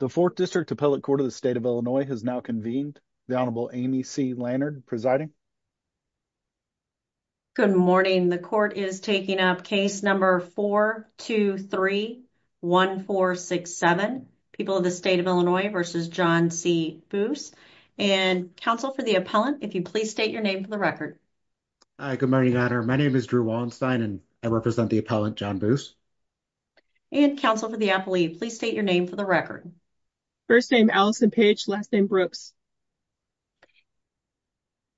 The Fourth District Appellate Court of the State of Illinois has now convened. The Honorable Amy C. Lannard presiding. Good morning. The court is taking up case number 423-1467, People of the State of Illinois v. John C. Boose. And counsel for the appellant, if you please state your name for the record. Hi, good morning, Honor. My name is Drew Wallenstein and I represent the appellant John Boose. And counsel for the appellate, please state your name for the record. First name Allison Page, last name Brooks.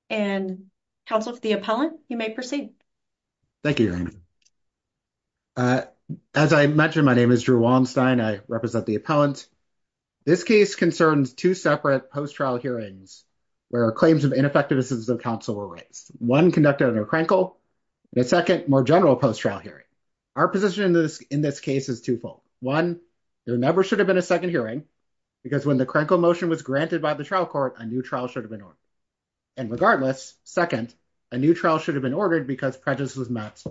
And counsel for the appellant, you may proceed. Thank you, Your Honor. As I mentioned, my name is Drew Wallenstein. I represent the appellant. This case concerns two separate post-trial hearings where claims of ineffectiveness of counsel were raised, one conducted under Krenkel, and a second, more general post-trial hearing. Our position in this case is twofold. One, there never should have been a second hearing because when the Krenkel motion was granted by the trial court, a new trial should have been ordered. And regardless, second, a new trial should have been ordered because prejudice was met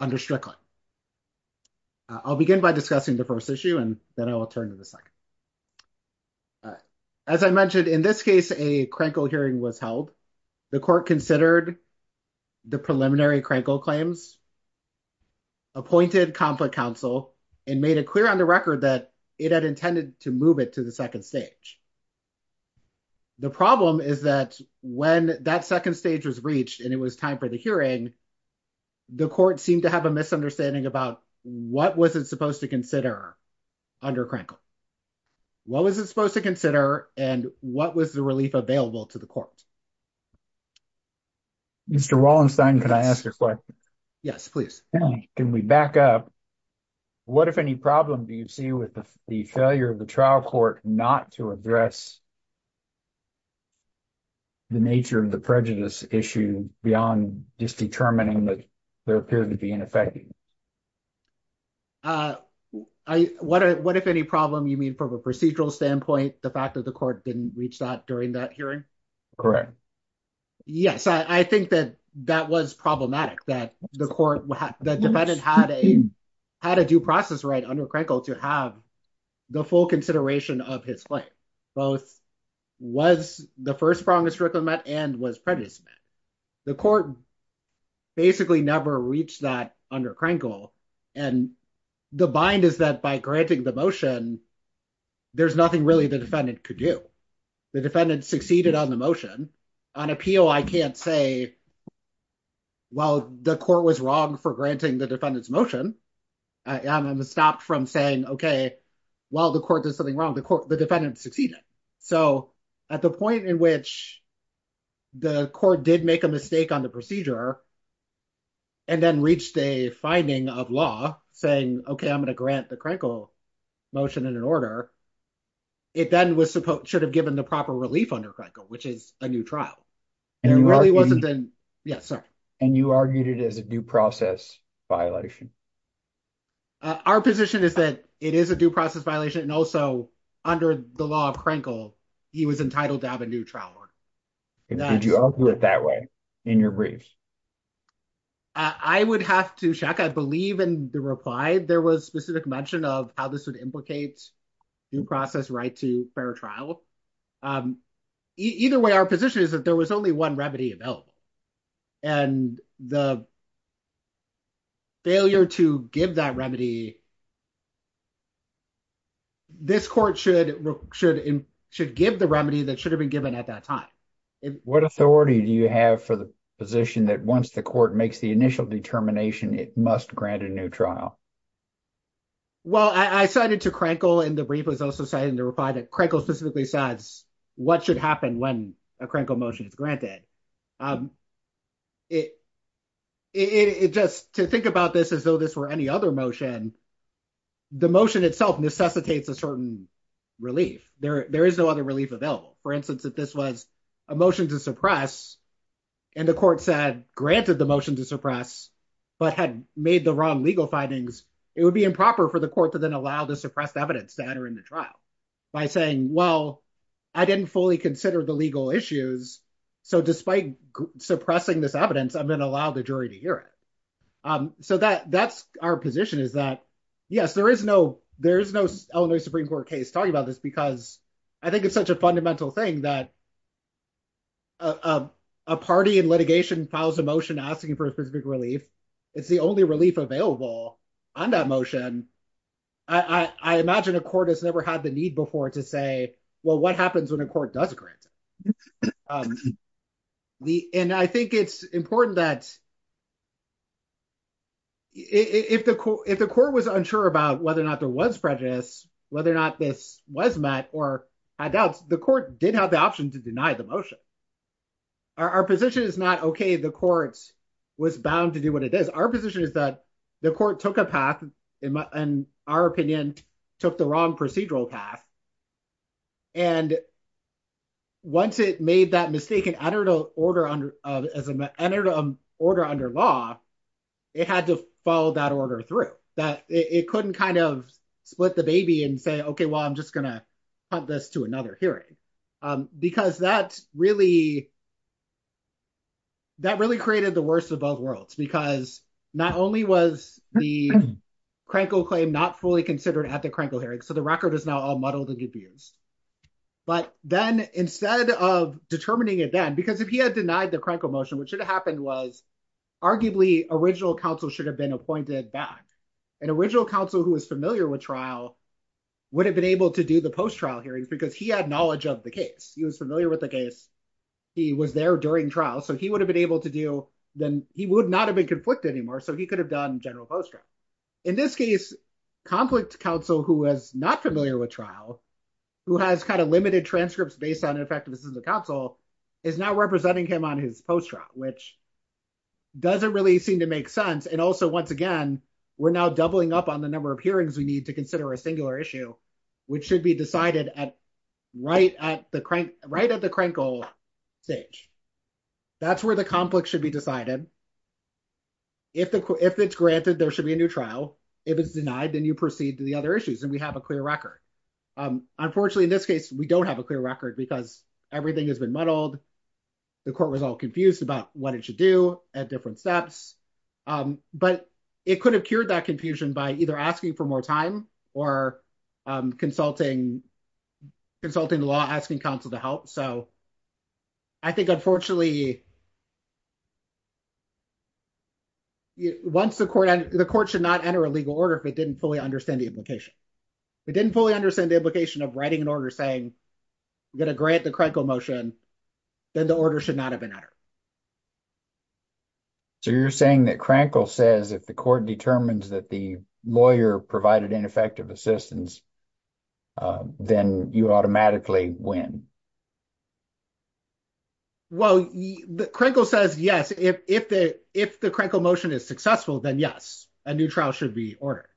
under Strickland. I'll begin by discussing the first issue and then I will turn to the second. All right. As I mentioned, in this case, a Krenkel hearing was held. The court considered the preliminary Krenkel claims, appointed conflict counsel, and made it clear on the record that it had intended to move it to the second stage. The problem is that when that second stage was reached and it was time for the hearing, the court seemed to have a misunderstanding about what was it supposed to consider under Krenkel. What was it supposed to consider and what was the relief available to the court? Mr. Wallenstein, can I ask a question? Yes, please. Can we back up? What, if any, problem do you see with the failure of the trial court not to address the nature of the prejudice issue beyond just determining that there appeared to be an issue affecting it? What, if any, problem you mean from a procedural standpoint, the fact that the court didn't reach that during that hearing? Correct. Yes, I think that that was problematic, that the defendant had a due process right under Krenkel to have the full consideration of his claim, both was the first prong of Strickland met and was prejudice met. The court basically never reached that under Krenkel. The bind is that by granting the motion, there's nothing really the defendant could do. The defendant succeeded on the motion. On appeal, I can't say, well, the court was wrong for granting the defendant's motion. I'm going to stop from saying, okay, while the court did something wrong, the defendant succeeded. At the point in which the court did make a mistake on the procedure and then reached a finding of law saying, okay, I'm going to grant the Krenkel motion in an order, it then should have given the proper relief under Krenkel, which is a new trial. And you argued it as a due process violation? Our position is that it is a due process violation and also under the law of Krenkel, he was entitled to have a new trial order. Did you argue it that way in your briefs? I would have to check. I believe in the reply, there was specific mention of how this would implicate due process right to fair trial. Either way, our position is that there was only one remedy available. And the failure to give that remedy, this court should give the remedy that should have been given at that time. What authority do you have for the position that once the court makes the initial determination, it must grant a new trial? Well, I cited to Krenkel in the brief was also citing the reply that Krenkel specifically says what should happen when Krenkel motion is granted. Just to think about this as though this were any other motion, the motion itself necessitates a certain relief. There is no other relief available. For instance, if this was a motion to suppress, and the court said granted the motion to suppress, but had made the wrong legal findings, it would be improper for the court to then allow the despite suppressing this evidence, I'm going to allow the jury to hear it. So that's our position is that, yes, there is no Illinois Supreme Court case talking about this, because I think it's such a fundamental thing that a party in litigation files a motion asking for a specific relief. It's the only relief available on that motion. I imagine a court has never had the need before to say, well, what happens when a court does grant it? And I think it's important that if the court was unsure about whether or not there was prejudice, whether or not this was met or had doubts, the court did have the option to deny the motion. Our position is not, okay, the court was bound to do what it is. Our position is that the court took a path, in our opinion, took the wrong procedural path. And once it made that mistake and entered an order under law, it had to follow that order through. It couldn't kind of split the baby and say, okay, well, I'm just going to punt this to another hearing. Because that really created the worst of both worlds, because not only was the Krankle claim not fully considered at the Krankle hearing, so the record is now all muddled and confused. But then instead of determining it then, because if he had denied the Krankle motion, what should have happened was, arguably, original counsel should have been appointed back. And original counsel who was familiar with trial would have been able to do the post-trial hearings, because he had knowledge of the case. He was familiar with the case. He was there during trial. So he would have been able to do, then he would not have been conflicted anymore. So he could have done general post-trial. In this case, conflict counsel who was not familiar with trial, who has kind of limited transcripts based on the effectiveness of the counsel, is now representing him on his post-trial, which doesn't really seem to make sense. And also, once again, we're now doubling up on the number of hearings we need to consider a singular issue, which should be decided right at the Krankle stage. That's where the conflict should be decided. If it's granted, there should be a new trial. If it's denied, then you proceed to the other issues, and we have a clear record. Unfortunately, in this case, we don't have a clear record, because everything has been muddled. The court was all confused about what it should do at different steps. But it could have cured that confusion by either asking for more time or consulting the law, asking counsel to help. So I think, unfortunately, once the court, the court should not enter a legal order if it didn't fully understand the implication. If it didn't fully understand the implication of writing an order saying, we're going to grant the Krankle motion, then the order should not have been entered. So you're saying that Krankle says if the court determines that the lawyer provided ineffective assistance, then you automatically win? Well, Krankle says yes. If the Krankle motion is successful, then yes, a new trial should be ordered.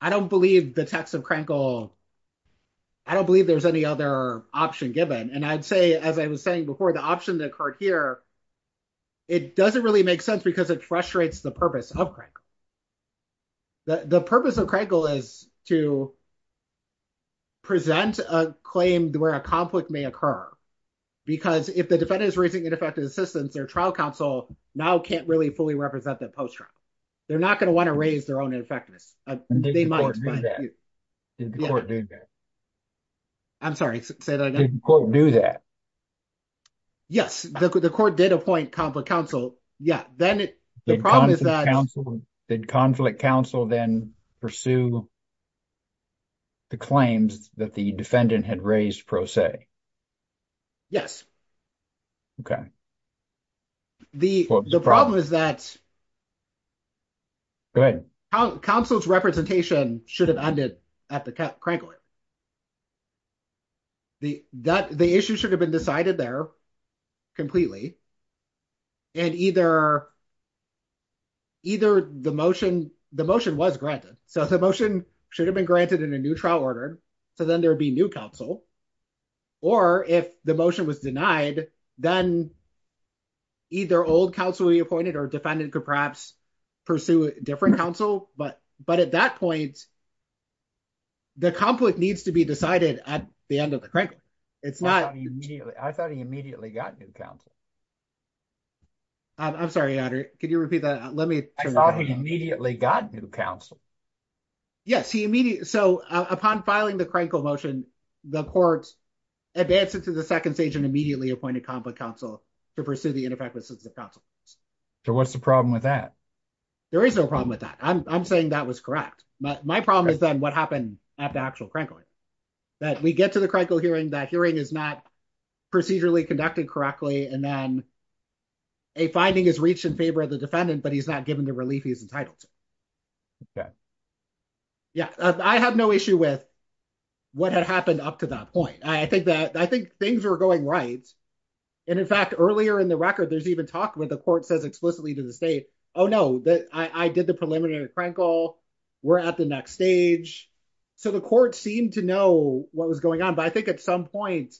I don't believe the text of Krankle, I don't believe there's any other option given. And I'd say, as I was saying before, the option that occurred here, it doesn't really make sense because it frustrates the purpose of Krankle. The purpose of Krankle is to present a claim where a conflict may occur. Because if the defendant is raising ineffective assistance, their trial counsel now can't really fully represent that post-trial. They're not going to want to raise their own ineffectiveness. Did the court do that? Yes, the court did appoint conflict counsel. Did conflict counsel then pursue the claims that the defendant had raised pro se? Yes. Okay. The problem is that counsel's representation should have ended at the Krankle. The issue should have been decided there completely, and either the motion was granted. So the motion should have been granted in a new trial order, so then there would be new counsel. Or if the motion was denied, then either old counsel would be appointed or defendant could perhaps pursue a different counsel. But at that point, the conflict needs to be decided at the end of the Krankle. I thought he immediately got new counsel. I'm sorry, Andrew, could you repeat that? I thought he immediately got new counsel. Yes. So upon filing the Krankle motion, the court advanced it to the second stage and immediately appointed conflict counsel to pursue the ineffective assistance of counsel. So what's the problem with that? There is no problem with that. I'm saying that was correct. My problem is then what happened at the actual Krankle hearing. That we get to the Krankle hearing, that hearing is not procedurally conducted correctly, and then a finding is reached in favor of the defendant, but he's not given the relief he's entitled to. Okay. Yeah, I have no issue with what had happened up to that point. I think things are going right. And in fact, earlier in the record, there's even talk where the court says explicitly to the state, oh no, I did the preliminary Krankle, we're at the next stage. So the court seemed to know what was going on, but I think at some point,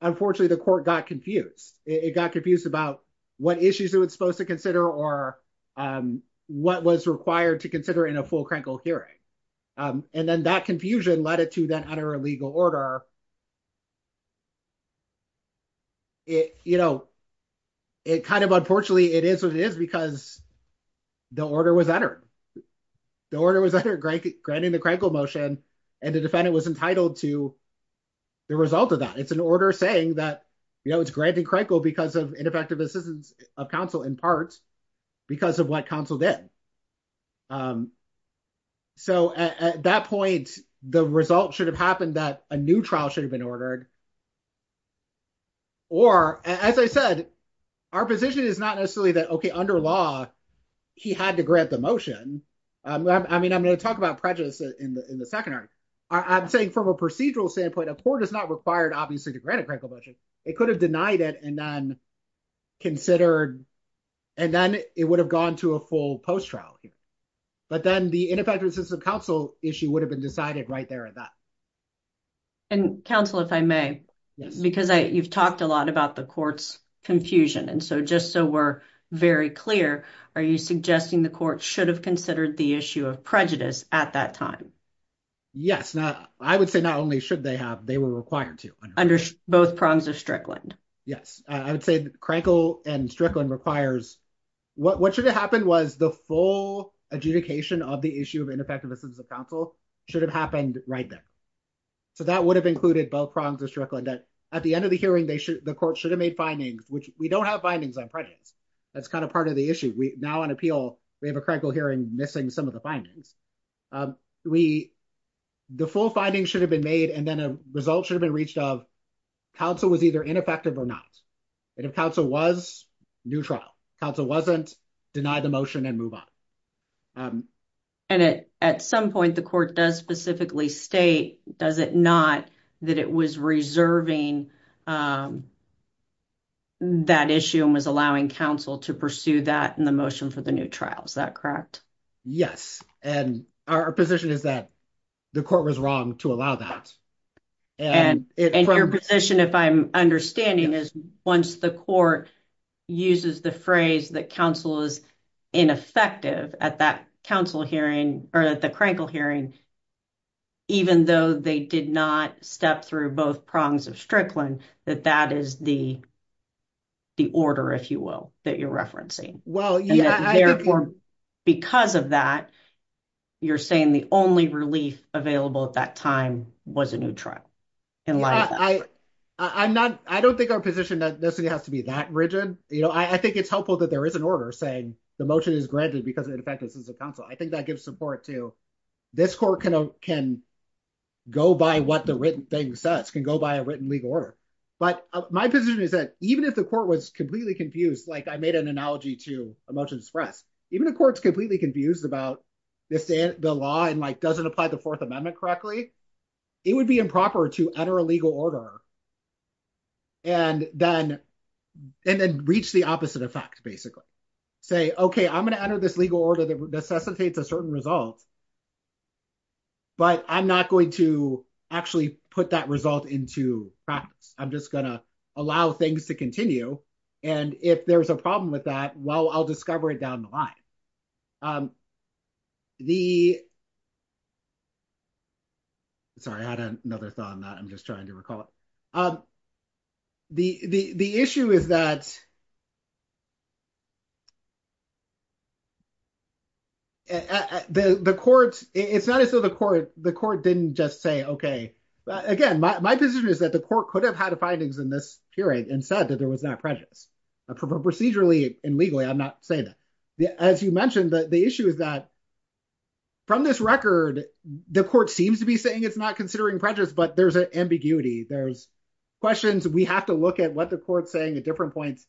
unfortunately, the court got confused. It got confused about what issues it was supposed to or what was required to consider in a full Krankle hearing. And then that confusion led it to that under a legal order. It kind of unfortunately, it is what it is because the order was entered. The order was under granting the Krankle motion, and the defendant was entitled to the result of that. It's an order saying that it's granting Krankle because of ineffective assistance of counsel in part because of what counsel did. So at that point, the result should have happened that a new trial should have been ordered. Or as I said, our position is not necessarily that, okay, under law, he had to grant the motion. I mean, I'm going to talk about prejudice in the second argument. I'm saying from a procedural standpoint, a court is not required, obviously, to grant a Krankle motion. It could have denied it and then it would have gone to a full post-trial hearing. But then the ineffective assistance of counsel issue would have been decided right there at that. And counsel, if I may, because you've talked a lot about the court's confusion. And so just so we're very clear, are you suggesting the court should have considered the issue of prejudice at that time? Yes. I would say not only should they have, they were required to. Under both prongs of Strickland. Yes. I would say Krankle and Strickland requires, what should have happened was the full adjudication of the issue of ineffective assistance of counsel should have happened right there. So that would have included both prongs of Strickland that at the end of the hearing, the court should have made findings, which we don't have findings on prejudice. That's kind of part of the issue. Now on appeal, we have a Krankle hearing missing some of the findings. The full findings should have been made and then a result should have been counsel was either ineffective or not. And if counsel was neutral, counsel wasn't, deny the motion and move on. And at some point, the court does specifically state, does it not, that it was reserving that issue and was allowing counsel to pursue that in the motion for the new trial. Is that correct? Yes. And our position is that the court was to allow that. And your position, if I'm understanding is once the court uses the phrase that counsel is ineffective at that counsel hearing or at the Krankle hearing, even though they did not step through both prongs of Strickland, that that is the order, if you will, that you're referencing. Well, yeah. Therefore, because of that, you're saying the only relief available at that time was a new trial. I don't think our position necessarily has to be that rigid. I think it's helpful that there is an order saying the motion is granted because of the effectiveness of counsel. I think that gives support to this court can go by what the written thing says, can go by a written legal order. But my position is that even if the court was completely confused, like I made an analogy to a motion express, even if the court is completely confused about the law and doesn't apply the Fourth Amendment correctly, it would be improper to enter a legal order and then reach the opposite effect, basically say, OK, I'm going to enter this legal order that necessitates a certain result. But I'm not going to actually put that result into practice. I'm just going to allow things to continue. And if there's a problem with that, well, I'll discover it down the line. Sorry, I had another thought on that. I'm just trying to recall it. The issue is that the court, it's not as though the court didn't just say, OK, again, my position is that the findings in this hearing and said that there was that prejudice procedurally and legally. I'm not saying that. As you mentioned, the issue is that from this record, the court seems to be saying it's not considering prejudice, but there's ambiguity. There's questions. We have to look at what the court's saying at different points.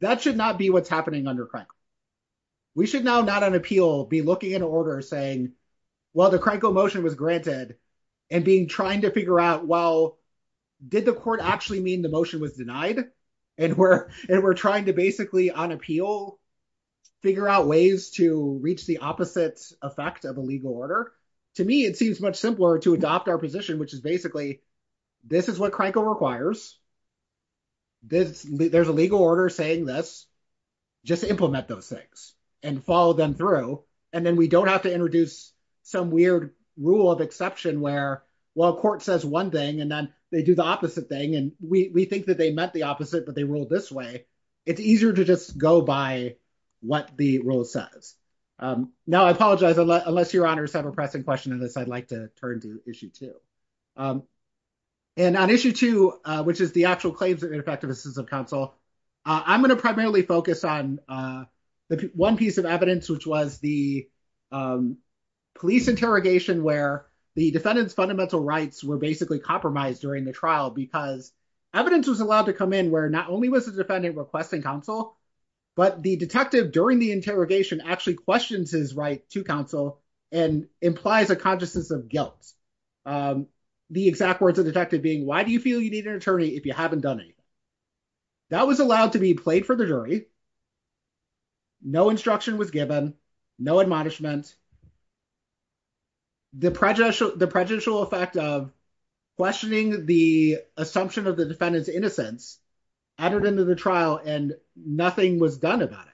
That should not be what's happening under Cranko. We should now not on appeal be looking in order saying, well, the Cranko motion was granted and being trying to figure out, well, did the court actually mean the motion was denied? And we're trying to basically on appeal, figure out ways to reach the opposite effect of a legal order. To me, it seems much simpler to adopt our position, which is basically, this is what Cranko requires. There's a legal order saying this. Just implement those things and follow them through. And then we don't have to introduce some weird rule of exception where, well, court says one thing and then they do the opposite thing. And we think that they meant the opposite, but they ruled this way. It's easier to just go by what the rule says. Now, I apologize, unless your honors have a pressing question on this, I'd like to turn to issue two. And on issue two, which is the actual claims of ineffective counsel, I'm going to primarily focus on the one piece of evidence, which was the police interrogation where the defendant's fundamental rights were basically compromised during the trial because evidence was allowed to come in where not only was the defendant requesting counsel, but the detective during the interrogation actually questions his right to counsel and implies a consciousness of guilt. The exact words of the detective being, why do you feel you need an attorney if you haven't done anything? That was allowed to be played for the jury. No instruction was given, no admonishment. The prejudicial effect of questioning the assumption of the defendant's innocence added into the trial and nothing was done about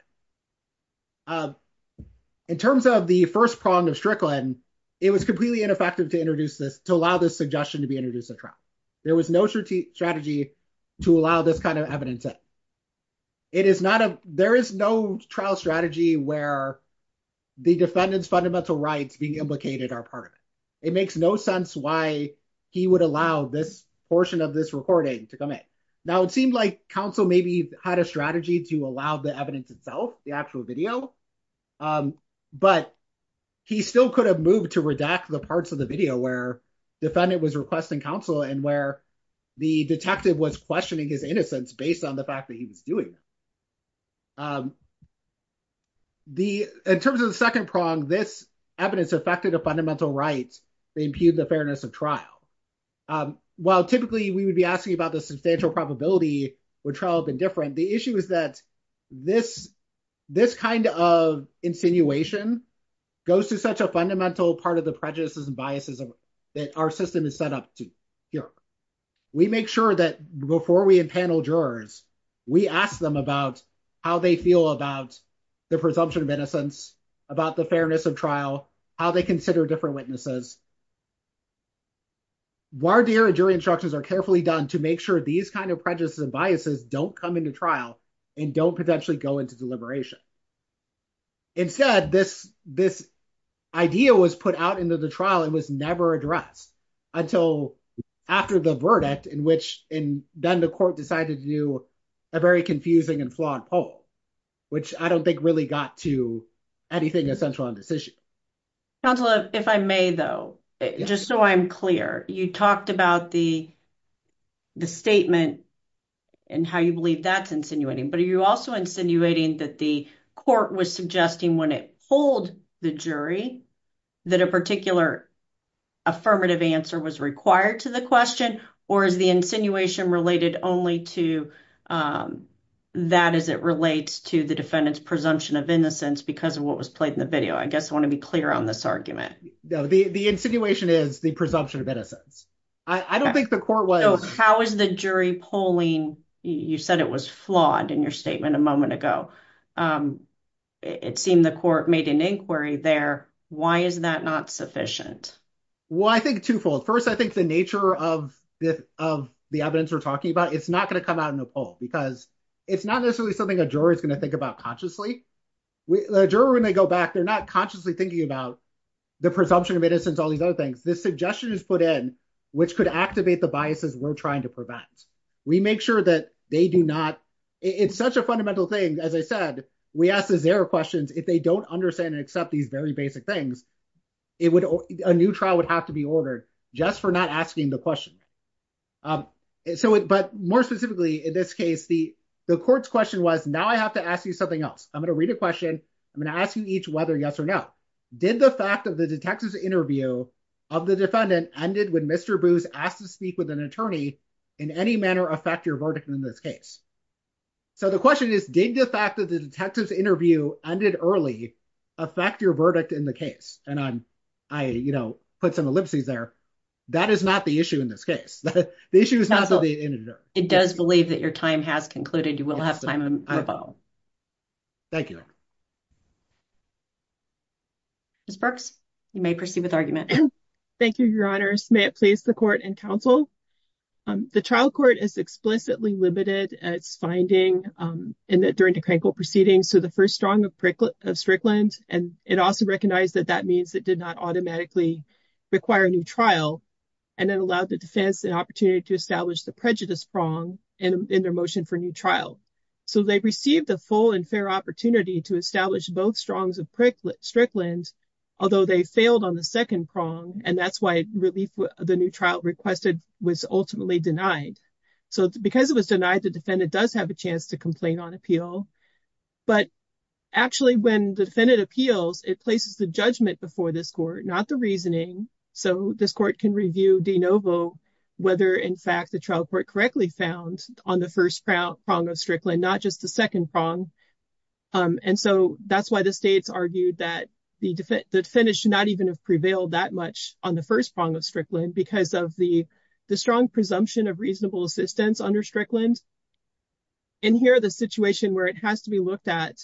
it. In terms of the first prong of Strickland, it was completely ineffective to allow this suggestion to be introduced at trial. There was no strategy to allow this kind of evidence in. There is no trial strategy where the defendant's fundamental rights being implicated are part of it. It makes no sense why he would allow this portion of this recording to come in. Now, it seemed like counsel maybe had a strategy to allow the evidence itself, the actual video, but he still could have moved to redact the parts of the video where defendant was requesting counsel and where the detective was questioning his innocence based on the fact that he was doing it. In terms of the second prong, this evidence affected a fundamental right to impugn the fairness of trial. While typically we would be asking about substantial probability would trial have been different, the issue is that this kind of insinuation goes to such a fundamental part of the prejudices and biases that our system is set up to cure. We make sure that before we impanel jurors, we ask them about how they feel about the presumption of innocence, about the fairness of trial, how they consider different witnesses. Our jury instructions are carefully done to make sure these kinds of prejudices and biases don't come into trial and don't potentially go into deliberation. Instead, this idea was put out into the trial and was never addressed until after the verdict in which then the court decided to do a very confusing and flawed poll, which I don't think really got to anything essential on this issue. Counselor, if I may, though, just so I'm clear, you talked about the statement and how you believe that's insinuating, but are you also insinuating that the court was suggesting when it pulled the jury that a particular affirmative answer was required to the question or is the insinuation related only to that as it relates to the defendant's presumption of innocence because of what was played in the video? I guess I want to be clear on this argument. No, the insinuation is the presumption of innocence. I don't think the court was... How is the jury polling? You said it was flawed in your statement a moment ago. It seemed the court made an inquiry there. Why is that not sufficient? Well, I think twofold. First, I think the nature of the evidence we're talking about, it's not going to come out in a poll because it's not necessarily something a jury is going to think about consciously. A jury, when they go back, they're not consciously thinking about the presumption of innocence, all these other things. This suggestion is put in, which could activate the biases we're trying to prevent. We make sure that they do not... It's such a fundamental thing. As I said, we ask these error questions. If they don't understand and accept these very basic things, a new trial would have to be ordered just for not asking the question. But more specifically, in this case, the court's question was, now I have to ask you something else. I'm going to read a question. I'm going to ask you each whether yes or no. Did the fact of the detective's interview of the defendant ended when Mr. Booth asked to speak with an attorney in any manner affect your verdict in this case? The question is, did the fact that the detective's interview ended early affect your verdict in the case? I put some ellipses there. That is not the issue in this case. The issue is not the interview. It does believe that your time has concluded. You will have time to rebuttal. Thank you. Ms. Burks, you may proceed with argument. Thank you, Your Honor. May it please the court and counsel. The trial court is explicitly limited its finding during the Krenkel proceedings to the first drawing of Strickland. It also recognized that that means it did not automatically require a new trial, and it allowed the defense an opportunity to establish the prejudice prong in their motion for a new trial. So, they received a full and fair opportunity to establish both strongs of Strickland, although they failed on the second prong, and that's why the new trial requested was ultimately denied. So, because it was denied, the defendant does have a chance to complain on appeal. But actually, when the defendant appeals, it places the judgment before this court, not the reasoning. So, this court can review de novo whether, in fact, the trial court correctly found on the first prong of Strickland, not just the second prong. And so, that's why the states argued that the defendant should not even have prevailed that much on the first prong of Strickland because of the strong presumption of reasonable assistance under Strickland. And here, the situation where it has to be looked at,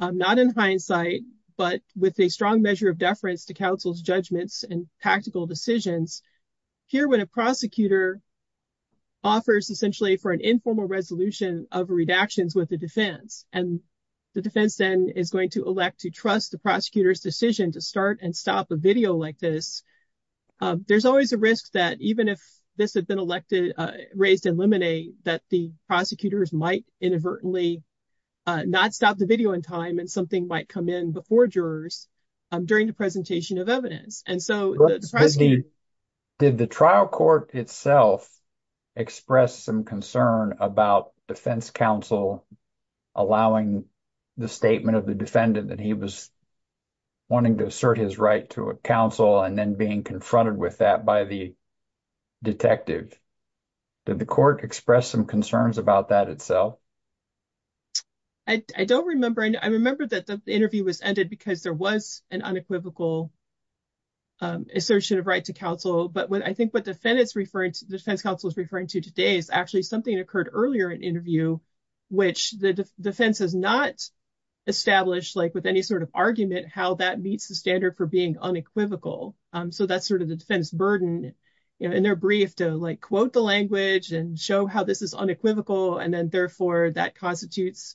not in hindsight, but with a strong measure of deference to counsel's judgments and tactical decisions. Here, when a prosecutor offers essentially for an informal resolution of redactions with the defense, and the defense then is going to elect to trust the prosecutor's decision to start and stop a video like this, there's always a risk that even if this had been elected, raised in limine, that the prosecutors might inadvertently not stop the video in time and something might come in before jurors during the presentation of evidence. And so, did the trial court itself express some concern about defense counsel allowing the statement of the defendant that he was wanting to assert his right to counsel and then being confronted with that by the detective? Did the court express some concerns about that itself? I don't remember. I remember that the interview was ended because there was an unequivocal assertion of right to counsel. But I think what defense counsel is referring to today is actually something that occurred earlier in interview, which the defense has not established like with any sort of argument how that meets the standard for being unequivocal. So, that's sort of the defense burden in their brief to like quote the language and show how this is unequivocal and then therefore that constitutes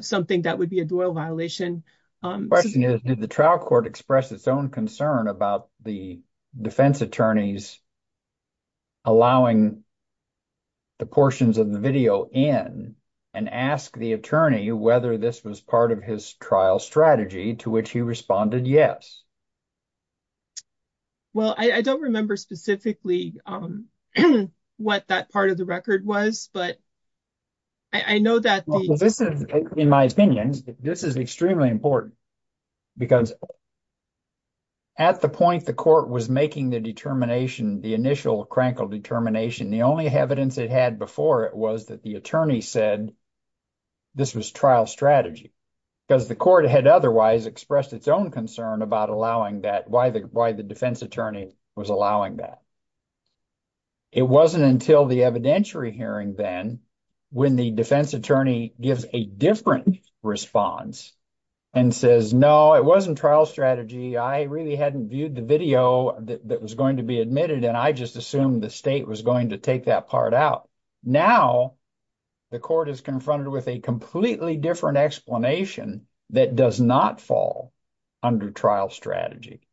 something that would be a doyle violation. The question is, did the trial court express its own concern about the defense attorneys allowing the portions of the video in and ask the attorney whether this was part of his trial strategy to which he responded yes? Well, I don't remember specifically what that part of the record was, but I know that this is, in my opinion, this is extremely important because at the point the determination, the initial crankle determination, the only evidence it had before it was that the attorney said this was trial strategy because the court had otherwise expressed its own concern about allowing that, why the defense attorney was allowing that. It wasn't until the evidentiary hearing then when the defense attorney gives a different response and says, no, it wasn't trial strategy. I really hadn't viewed the video that was going to be admitted and I just assumed the state was going to take that part out. Now, the court is confronted with a completely different explanation that does not fall under trial strategy.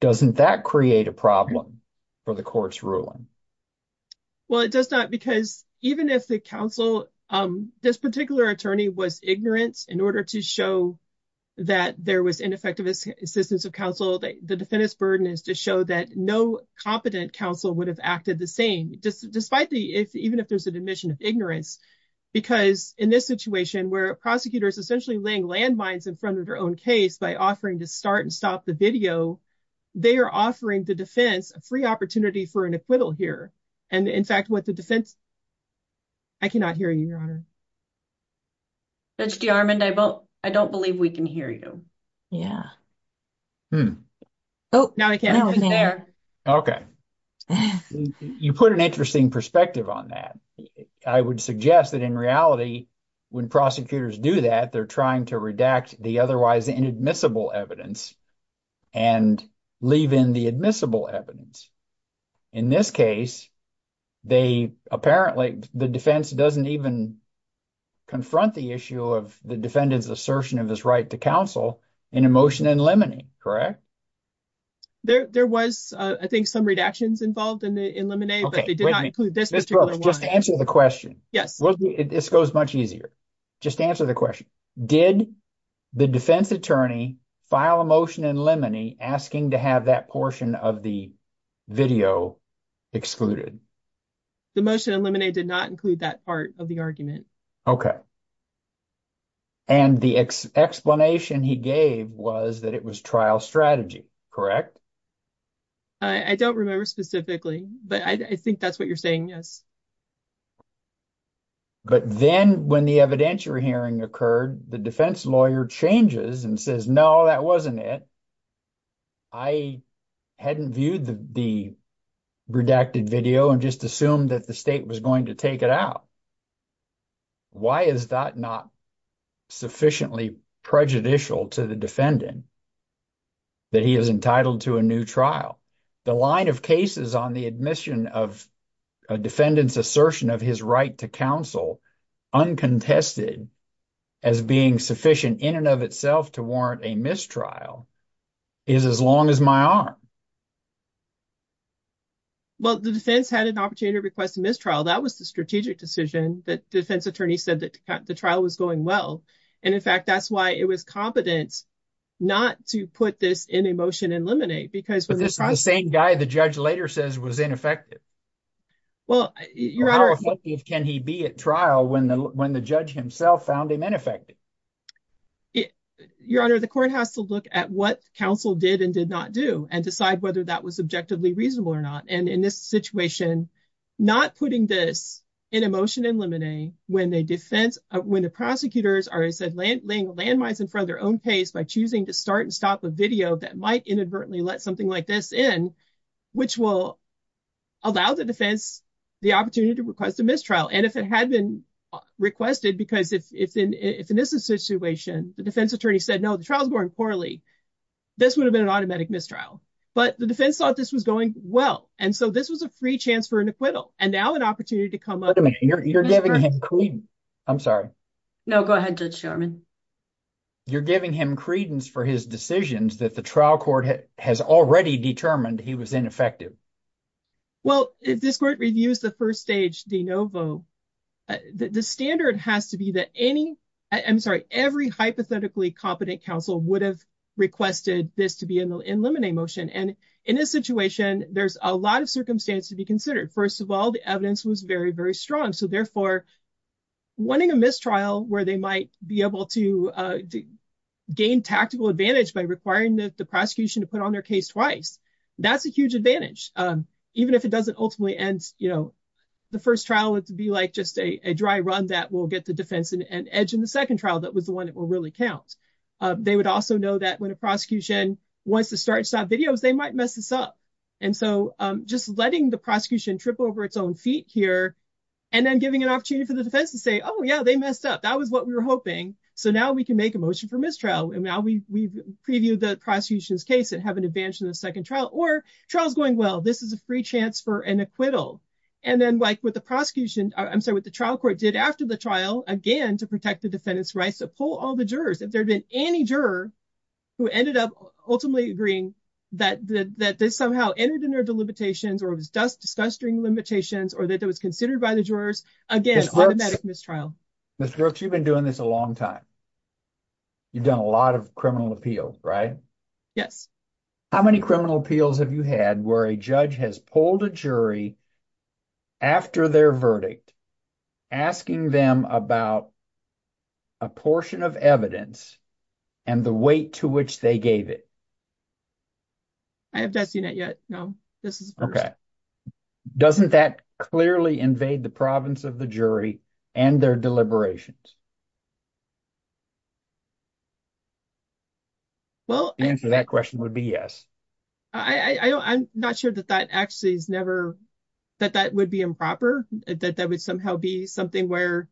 Doesn't that create a problem for the court's ruling? Well, it does not because even if the counsel, this particular attorney was ignorant in order to show that there was ineffective assistance of counsel, the defendant's burden is to show that no competent counsel would have acted the same despite the, even if there's an admission of ignorance because in this situation where a prosecutor is essentially laying landmines in front of their own case by offering to start and stop the video, they are offering the defense a free opportunity for an acquittal here and in fact what the defense, I cannot hear you, Your Honor. Judge DeArmond, I don't believe we can hear you. Yeah. Oh, now we can. Okay. You put an interesting perspective on that. I would suggest that in reality when prosecutors do that, they're trying to redact the otherwise inadmissible evidence and leave in the admissible evidence. In this case, they apparently, the defense doesn't even confront the issue of the defendant's assertion of his right to counsel in a motion in limine, correct? There was, I think, some redactions involved in limine but they did not include this particular one. Just answer the question. Yes. This goes much easier. Just answer the question. Did the defense attorney file a motion in limine asking to have that portion of the video excluded? The motion in limine did not include that part of the argument. Okay. And the explanation he gave was that it was trial strategy, correct? I don't remember specifically but I think that's what you're saying, yes. But then when the evidentiary hearing occurred, the defense lawyer changes and says, no, that wasn't it. I hadn't viewed the redacted video and just assumed that the state was going to take it out. Why is that not sufficiently prejudicial to the defendant that he is entitled to a new trial? The line of cases on the admission of a defendant's assertion of his right to counsel uncontested as being sufficient in and of itself to warrant a mistrial is as long as my arm. Well, the defense had an opportunity to request a mistrial. That was the strategic decision that the defense attorney said that the trial was going well. And in fact, that's why it was unconfident not to put this in a motion in limine. But this is the same guy the judge later says was ineffective. How effective can he be at trial when the judge himself found him ineffective? Your Honor, the court has to look at what counsel did and did not do and decide whether that was objectively reasonable or not. And in this situation, not putting this in a motion in limine, when the prosecutors are laying landmines in front of their own case by choosing to start and stop a video that might inadvertently let something like this in, which will allow the defense the opportunity to request a mistrial. And if it had been requested, because if in this situation, the defense attorney said, no, the trial is going poorly, this would have been an automatic mistrial. But the defense thought this was going well. And so this was a free chance for him. I'm sorry. No, go ahead, Judge Sherman. You're giving him credence for his decisions that the trial court has already determined he was ineffective. Well, if this court reviews the first stage de novo, the standard has to be that any I'm sorry, every hypothetically competent counsel would have requested this to be in limine motion. And in this situation, there's a lot of So therefore, winning a mistrial where they might be able to gain tactical advantage by requiring the prosecution to put on their case twice, that's a huge advantage. Even if it doesn't ultimately end, you know, the first trial would be like just a dry run that will get the defense and edge in the second trial. That was the one that will really count. They would also know that when a prosecution wants to start videos, they might mess this up. And so just letting the prosecution trip over its own feet here and then giving an opportunity for the defense to say, oh, yeah, they messed up. That was what we were hoping. So now we can make a motion for mistrial. And now we preview the prosecution's case and have an advantage in the second trial or trial is going well. This is a free chance for an acquittal. And then like with the prosecution, I'm sorry, what the trial court did after the trial, again, to protect the defendant's rights, to pull all the jurors. If there had been any juror who ended up ultimately agreeing that they somehow entered in their delimitations or it was just disgusting limitations or that it was considered by the jurors, again, automatic mistrial. Mr. Brooks, you've been doing this a long time. You've done a lot of criminal appeal, right? Yes. How many criminal appeals have you had where a judge has pulled a jury after their verdict, asking them about a portion of evidence and the weight to which they gave it? I have not seen it yet. No, this is first. Okay. Doesn't that clearly invade the province of the jury and their deliberations? Well, answer that question would be yes. I'm not sure that that actually is never, that that would be improper, that that would somehow be something where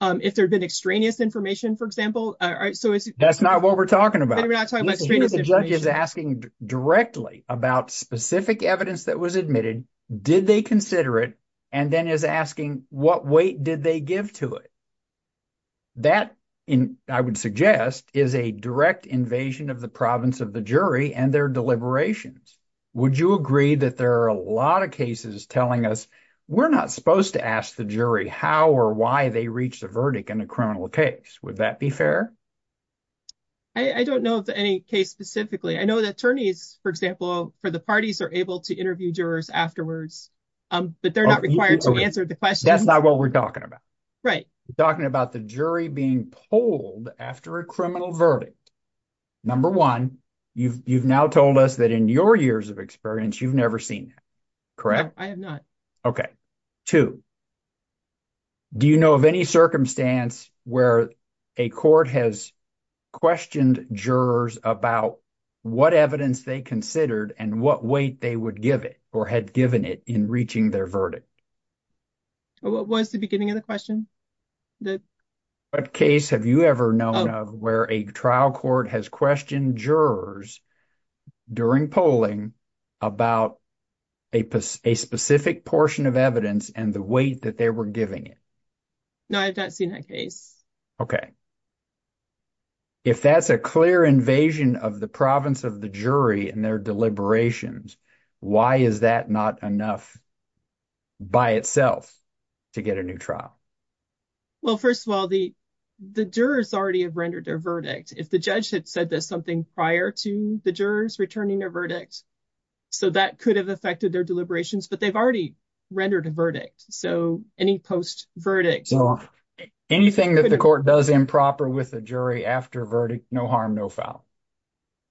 if there'd been extraneous information, for example. That's not what we're talking about. The judge is asking directly about specific evidence that was admitted. Did they consider it? And then is asking what weight did they give to it? That, I would suggest, is a direct invasion of the province of the jury and their deliberations. Would you agree that there are a lot of cases telling us we're not supposed to ask the jury how or why they reached a verdict in a criminal case? Would that be fair? I don't know of any case specifically. I know the attorneys, for example, for the parties are able to interview jurors afterwards, but they're not required to answer the question. That's not what we're talking about. Right. We're talking about the jury being pulled after a criminal verdict. Number one, you've now told us that in your years of experience, you've never seen that. Correct? I have not. Okay. Two, do you know of any circumstance where a court has questioned jurors about what evidence they considered and what weight they would give it or had given it in reaching their verdict? What was the beginning of the question? What case have you ever known of where a trial court has questioned jurors during polling about a specific portion of evidence and the weight that they were giving it? No, I've not seen that case. Okay. If that's a clear invasion of the province of the jury and their deliberations, why is that not enough by itself to get a new trial? Well, first of all, the jurors already have rendered their verdict. If the judge had said that something prior to the jurors returning their verdict, so that could have affected their deliberations, but they've already rendered a verdict. So any post verdict- So anything that the court does improper with the jury after verdict, no harm, no foul.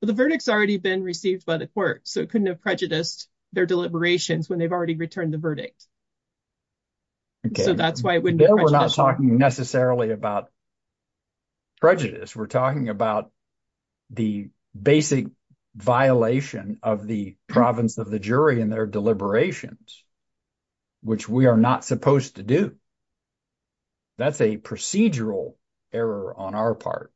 The verdict's already been received by the court, so it couldn't have prejudiced their deliberations when they've already returned the verdict. So that's why it wouldn't be prejudicial. We're not talking necessarily about prejudice. We're talking about the basic violation of the province of the jury and their deliberations, which we are not supposed to do. That's a procedural error on our part,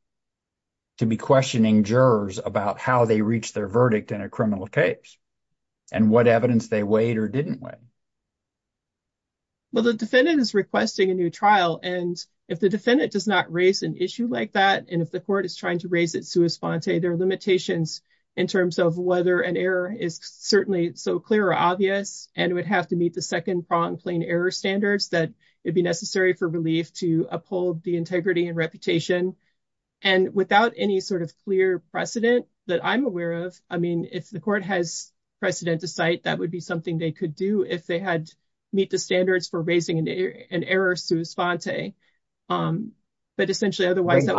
to be questioning jurors about how they reached their verdict in a criminal case and what evidence they weighed or didn't weigh. Well, the defendant is requesting a new trial, and if the defendant does not raise an issue like that, and if the court is trying to raise it sua sponte, there are limitations in terms of whether an error is certainly so clear or obvious, and it would have to meet the second pronged plain error standards that would be necessary for relief to uphold the integrity and reputation. And without any sort of clear precedent that I'm aware of, I mean, if the court has precedent to cite, that would be something they could do if they had meet the standards for raising an error sua sponte. I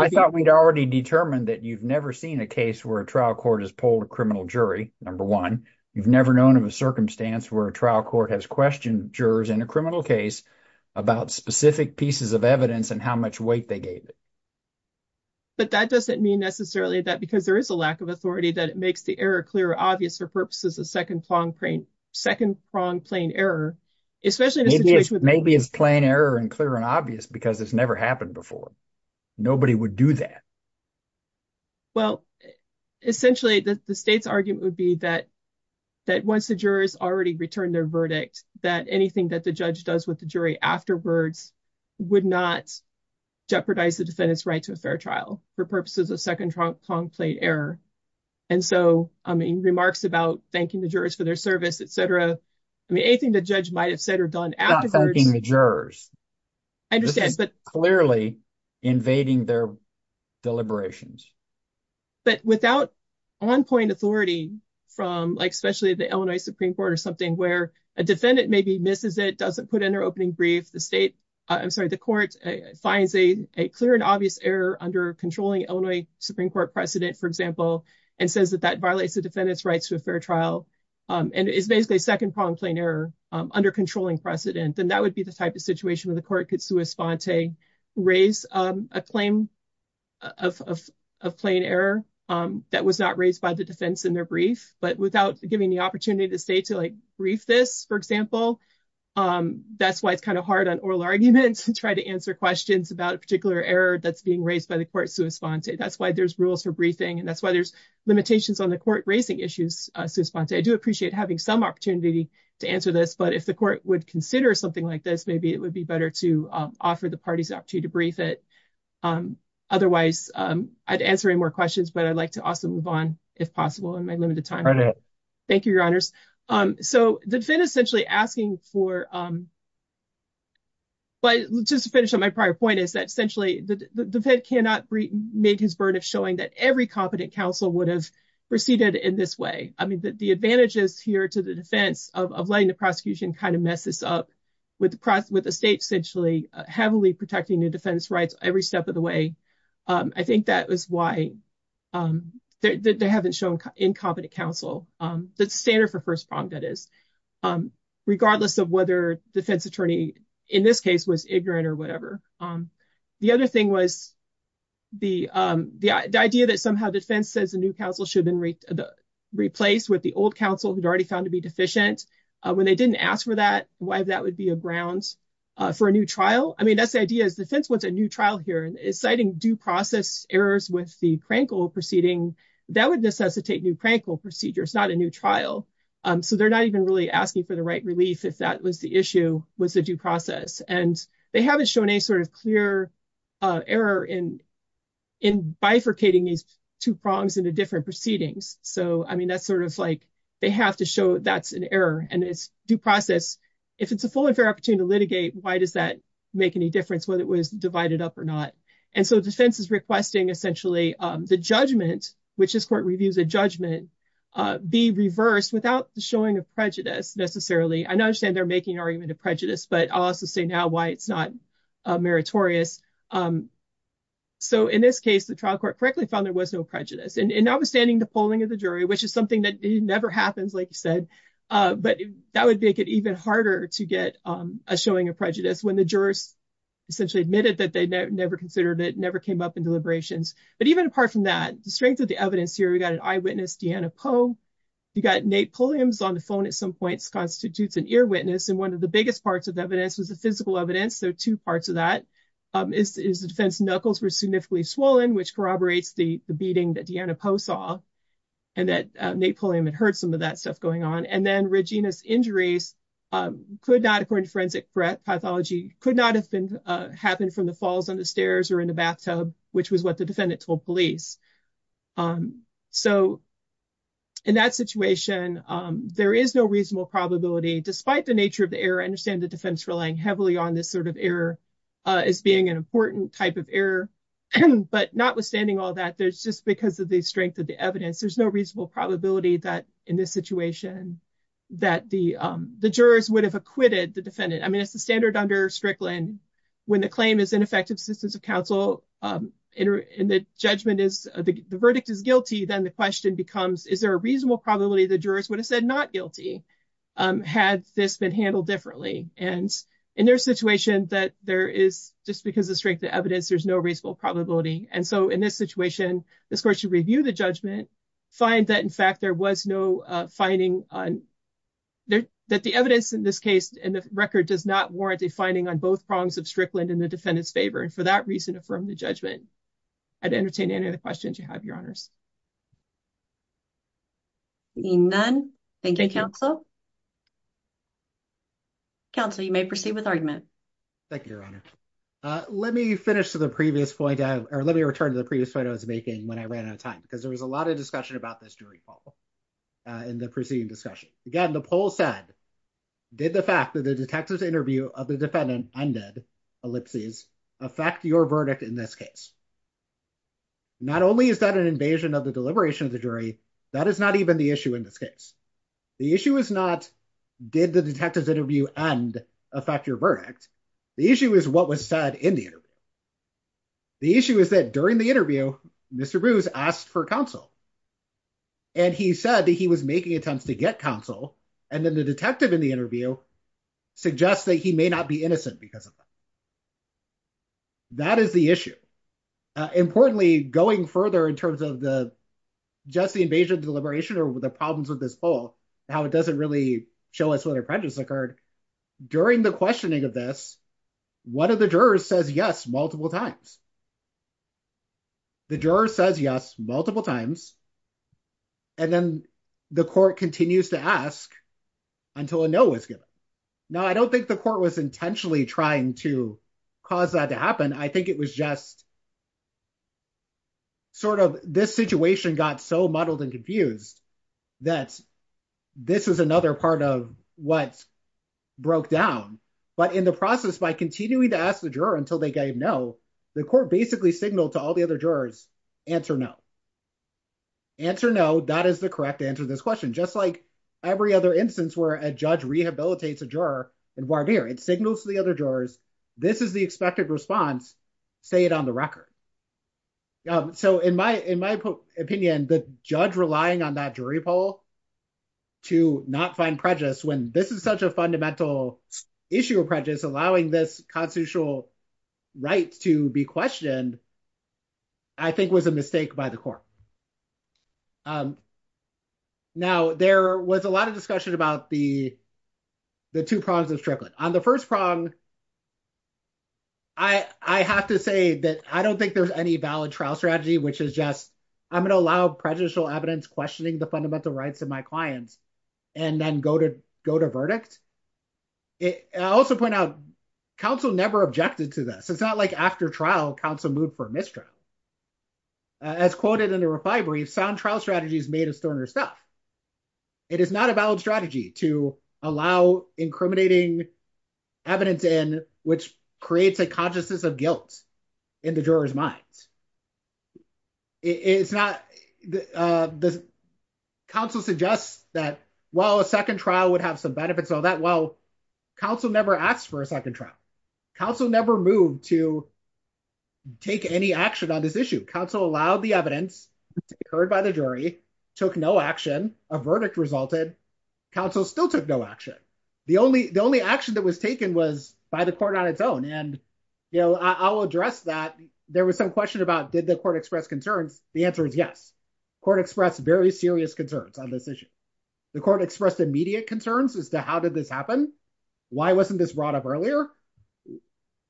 thought we'd already determined that you've never seen a case where a trial court has polled a criminal jury, number one. You've never known of a circumstance where a trial court has questioned jurors in a criminal case about specific pieces of evidence and how much weight they gave it. But that doesn't mean necessarily that because there is a lack of authority that it makes the error clear or obvious for purposes of second pronged plain error. Especially in a situation... Maybe it's plain error and clear and obvious because it's never happened before. Nobody would do that. Well, essentially, the state's argument would be that once the jurors already returned their verdict, that anything that the judge does with the jury afterwards would not jeopardize the defendant's right to a fair trial for purposes of second pronged plain error. And so, I mean, remarks about thanking the jurors for their service, etc. I mean, anything the judge might have said or done afterwards... Not thanking the jurors. I understand, but... Clearly invading their deliberations. But without on-point authority from, like, especially the Illinois Supreme Court or something where a defendant maybe misses it, doesn't put in their opening brief, the state, I'm sorry, the court finds a clear and obvious error under controlling Illinois Supreme Court precedent, for example, and says that that violates the defendant's rights to a fair trial and is basically second pronged plain error under controlling precedent. And that would be the type of situation where the court could sua sponte, raise a claim of plain error that was not raised by the defense in their brief. But without giving the opportunity to say to, like, brief this, for example, that's why it's kind of hard on oral arguments to try to answer questions about a particular error that's being raised by the court sua sponte. That's why there's rules for briefing and that's why there's limitations on the court raising issues sua sponte. I do appreciate having some opportunity to answer this, but if the court would consider something like this, maybe it would be better to offer the parties the opportunity to brief it. Otherwise, I'd answer any more questions, but I'd like to also move on, if possible, in my limited time. Thank you, your honors. So the defendant essentially asking for, but just to finish on my prior point, is that essentially the defendant cannot make his burden of showing that every competent counsel would have proceeded in this way. The advantages here to the defense of letting the prosecution kind of mess this up with the state essentially heavily protecting the defense rights every step of the way. I think that was why they haven't shown incompetent counsel. That's standard for first prong, that is, regardless of whether defense attorney in this case was ignorant or whatever. The other thing was the idea that somehow defense says new counsel should have been replaced with the old counsel who'd already found to be deficient. When they didn't ask for that, why that would be a ground for a new trial. I mean, that's the idea is defense wants a new trial here. Citing due process errors with the crankle proceeding, that would necessitate new crankle procedures, not a new trial. So they're not even really asking for the right relief if that was the issue, was the due process. And they haven't shown any sort of clear error in bifurcating these two prongs into different proceedings. So, I mean, that's sort of like they have to show that's an error and it's due process. If it's a full and fair opportunity to litigate, why does that make any difference whether it was divided up or not? And so defense is requesting essentially the judgment, which this court reviews a judgment, be reversed without showing a prejudice necessarily. I understand they're making argument of prejudice, but I'll also say now why it's not meritorious. So in this case, the trial court correctly found there was no prejudice. And notwithstanding the polling of the jury, which is something that never happens, like you said, but that would make it even harder to get a showing of prejudice when the jurors essentially admitted that they never considered it, never came up in deliberations. But even apart from that, the strength of the evidence here, we've got an eyewitness, Deanna Poe. You got Nate Pulliams on the phone at some points, constitutes an ear witness. And one of the biggest parts of evidence was the physical evidence. So two parts of that is the defense knuckles were significantly swollen, which corroborates the beating that Deanna Poe saw and that Nate Pulliam had heard some of that stuff going on. And then Regina's injuries could not, according to forensic pathology, could not have happened from the falls on the stairs or in the bathtub, which was what the defendant told police. So in that situation, there is no reasonable probability, despite the nature of the error, the defense relying heavily on this sort of error as being an important type of error. But notwithstanding all that, there's just because of the strength of the evidence, there's no reasonable probability that in this situation, that the jurors would have acquitted the defendant. I mean, it's the standard under Strickland when the claim is ineffective assistance of counsel and the judgment is the verdict is guilty. Then the question becomes, is there a reasonable probability the jurors would have said not guilty had this been handled differently? And in their situation that there is, just because of the strength of evidence, there's no reasonable probability. And so in this situation, this court should review the judgment, find that in fact, there was no finding on, that the evidence in this case and the record does not warrant a finding on both prongs of Strickland in the defendant's favor. And for that reason, affirm the judgment. I'd entertain any other questions you have, Your Honors. Seeing none. Thank you, Counsel. Counsel, you may proceed with argument. Thank you, Your Honor. Let me finish to the previous point, or let me return to the previous point I was making when I ran out of time, because there was a lot of discussion about this during the poll, in the preceding discussion. Again, the poll said, did the fact that the detective's interview of the defendant undid ellipses affect your verdict in this case? Not only is that an invasion of privacy, an invasion of the deliberation of the jury, that is not even the issue in this case. The issue is not, did the detective's interview end affect your verdict? The issue is what was said in the interview. The issue is that during the interview, Mr. Brews asked for counsel. And he said that he was making attempts to get counsel. And then the detective in the interview suggests that he may not be innocent because of that. That is the issue. Importantly, going further in terms of the, just the invasion of deliberation or the problems with this poll, how it doesn't really show us what a prejudice occurred. During the questioning of this, one of the jurors says yes multiple times. The juror says yes multiple times. And then the court continues to ask until a no was given. Now, I don't think the court was intentionally trying to cause that to happen. I think it was just sort of, this situation got so muddled and confused that this is another part of what broke down. But in the process, by continuing to ask the juror until they gave no, the court basically signaled to all the other jurors, answer no. Answer no, that is the correct answer to this question. Just like every other instance where a judge rehabilitates a juror in voir dire, it signals to the other jurors, this is the expected response, say it on the record. So in my opinion, the judge relying on that jury poll to not find prejudice when this is such a fundamental issue of prejudice, allowing this constitutional right to be questioned, I think was a mistake by the court. Now, there was a lot of discussion about the two prongs of Strickland. On the first prong, I have to say that I don't think there's any valid trial strategy, which is just, I'm gonna allow prejudicial evidence questioning the fundamental rights of my clients and then go to verdict. I also point out, counsel never objected to this. It's not like after trial, counsel moved for mistrial. As quoted in the reply brief, sound trial strategy is made of sterner stuff. It is not a valid strategy to allow incriminating evidence in, which creates a consciousness of guilt in the juror's minds. Counsel suggests that, well, a second trial would have some benefits of that. Well, counsel never asked for a second trial. Counsel never moved to take any action on this issue. Counsel allowed the evidence to be heard by the jury, took no action, a verdict resulted, counsel still took no action. The only action that was taken was by the court on its own. And I'll address that. There was some question about, did the court express concerns? The answer is yes. Court expressed very serious concerns on this issue. The court expressed immediate concerns as to how did this happen? Why wasn't this brought up earlier?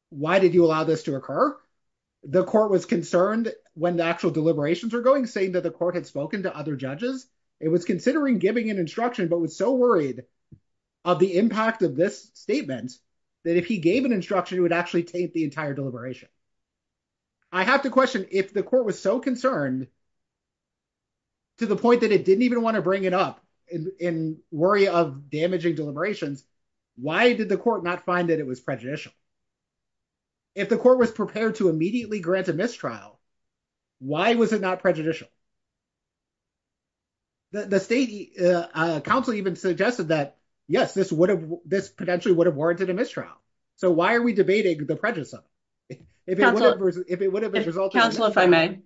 Why did you allow this to occur? The court was concerned when the actual deliberations were going saying that the court had spoken to other judges. It was considering giving an instruction, but was so worried of the impact of this statement that if he gave an instruction, it would actually taint the entire deliberation. I have to question if the court was so concerned to the point that it didn't even want to bring it up in worry of damaging deliberations, why did the court not find that it was prejudicial? If the court was prepared to immediately grant a mistrial, why was it not prejudicial? The state counsel even suggested that, yes, this potentially would have warranted a mistrial. So why are we debating the prejudice of it? If it would have resulted in- Counsel, if I may.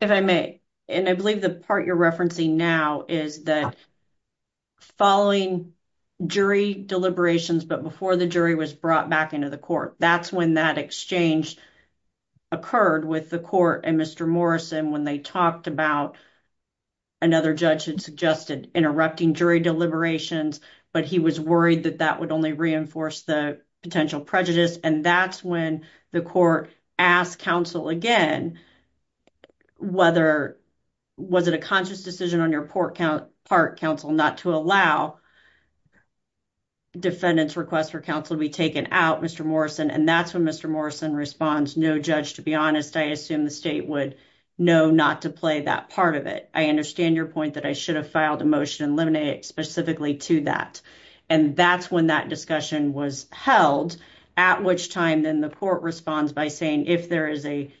If I may. And I believe the part you're referencing now is that following jury deliberations, but before the jury was brought back into the court, that's when that exchange occurred with the court and Mr. Morrison when they talked about another judge had suggested interrupting jury deliberations, but he was worried that that would only reinforce the potential prejudice. And that's when the court asked counsel again, whether was it a conscious decision on your part counsel not to allow defendants requests for counsel to be taken out, Mr. Morrison. And that's when Mr. Morrison responds, no judge, to be honest, I assume the state would know not to play that part of it. I understand your point that I should have filed a motion and eliminate it specifically to that. And that's when that discussion was held, at which time then the court responds by saying, if there is a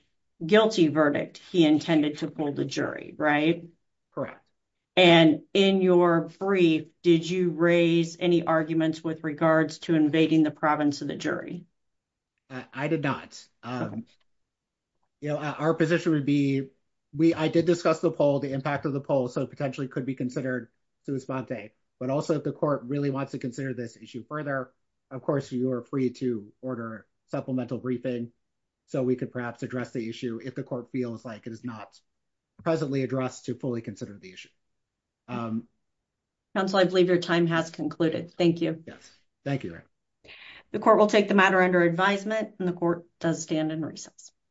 guilty verdict, he intended to hold the jury, right? Correct. And in your brief, did you raise any arguments with regards to invading the province of the jury? I did not. Our position would be, I did discuss the poll, the impact of the poll. So it potentially could be considered to respond to it. But also if the court really wants to consider this issue further, of course you are free to order supplemental briefing. So we could perhaps address the issue if the court feels like it is not presently addressed to fully consider the issue. Counsel, I believe your time has concluded. Thank you. Yes, thank you. The court will take the matter under advisement and the court does stand in recess.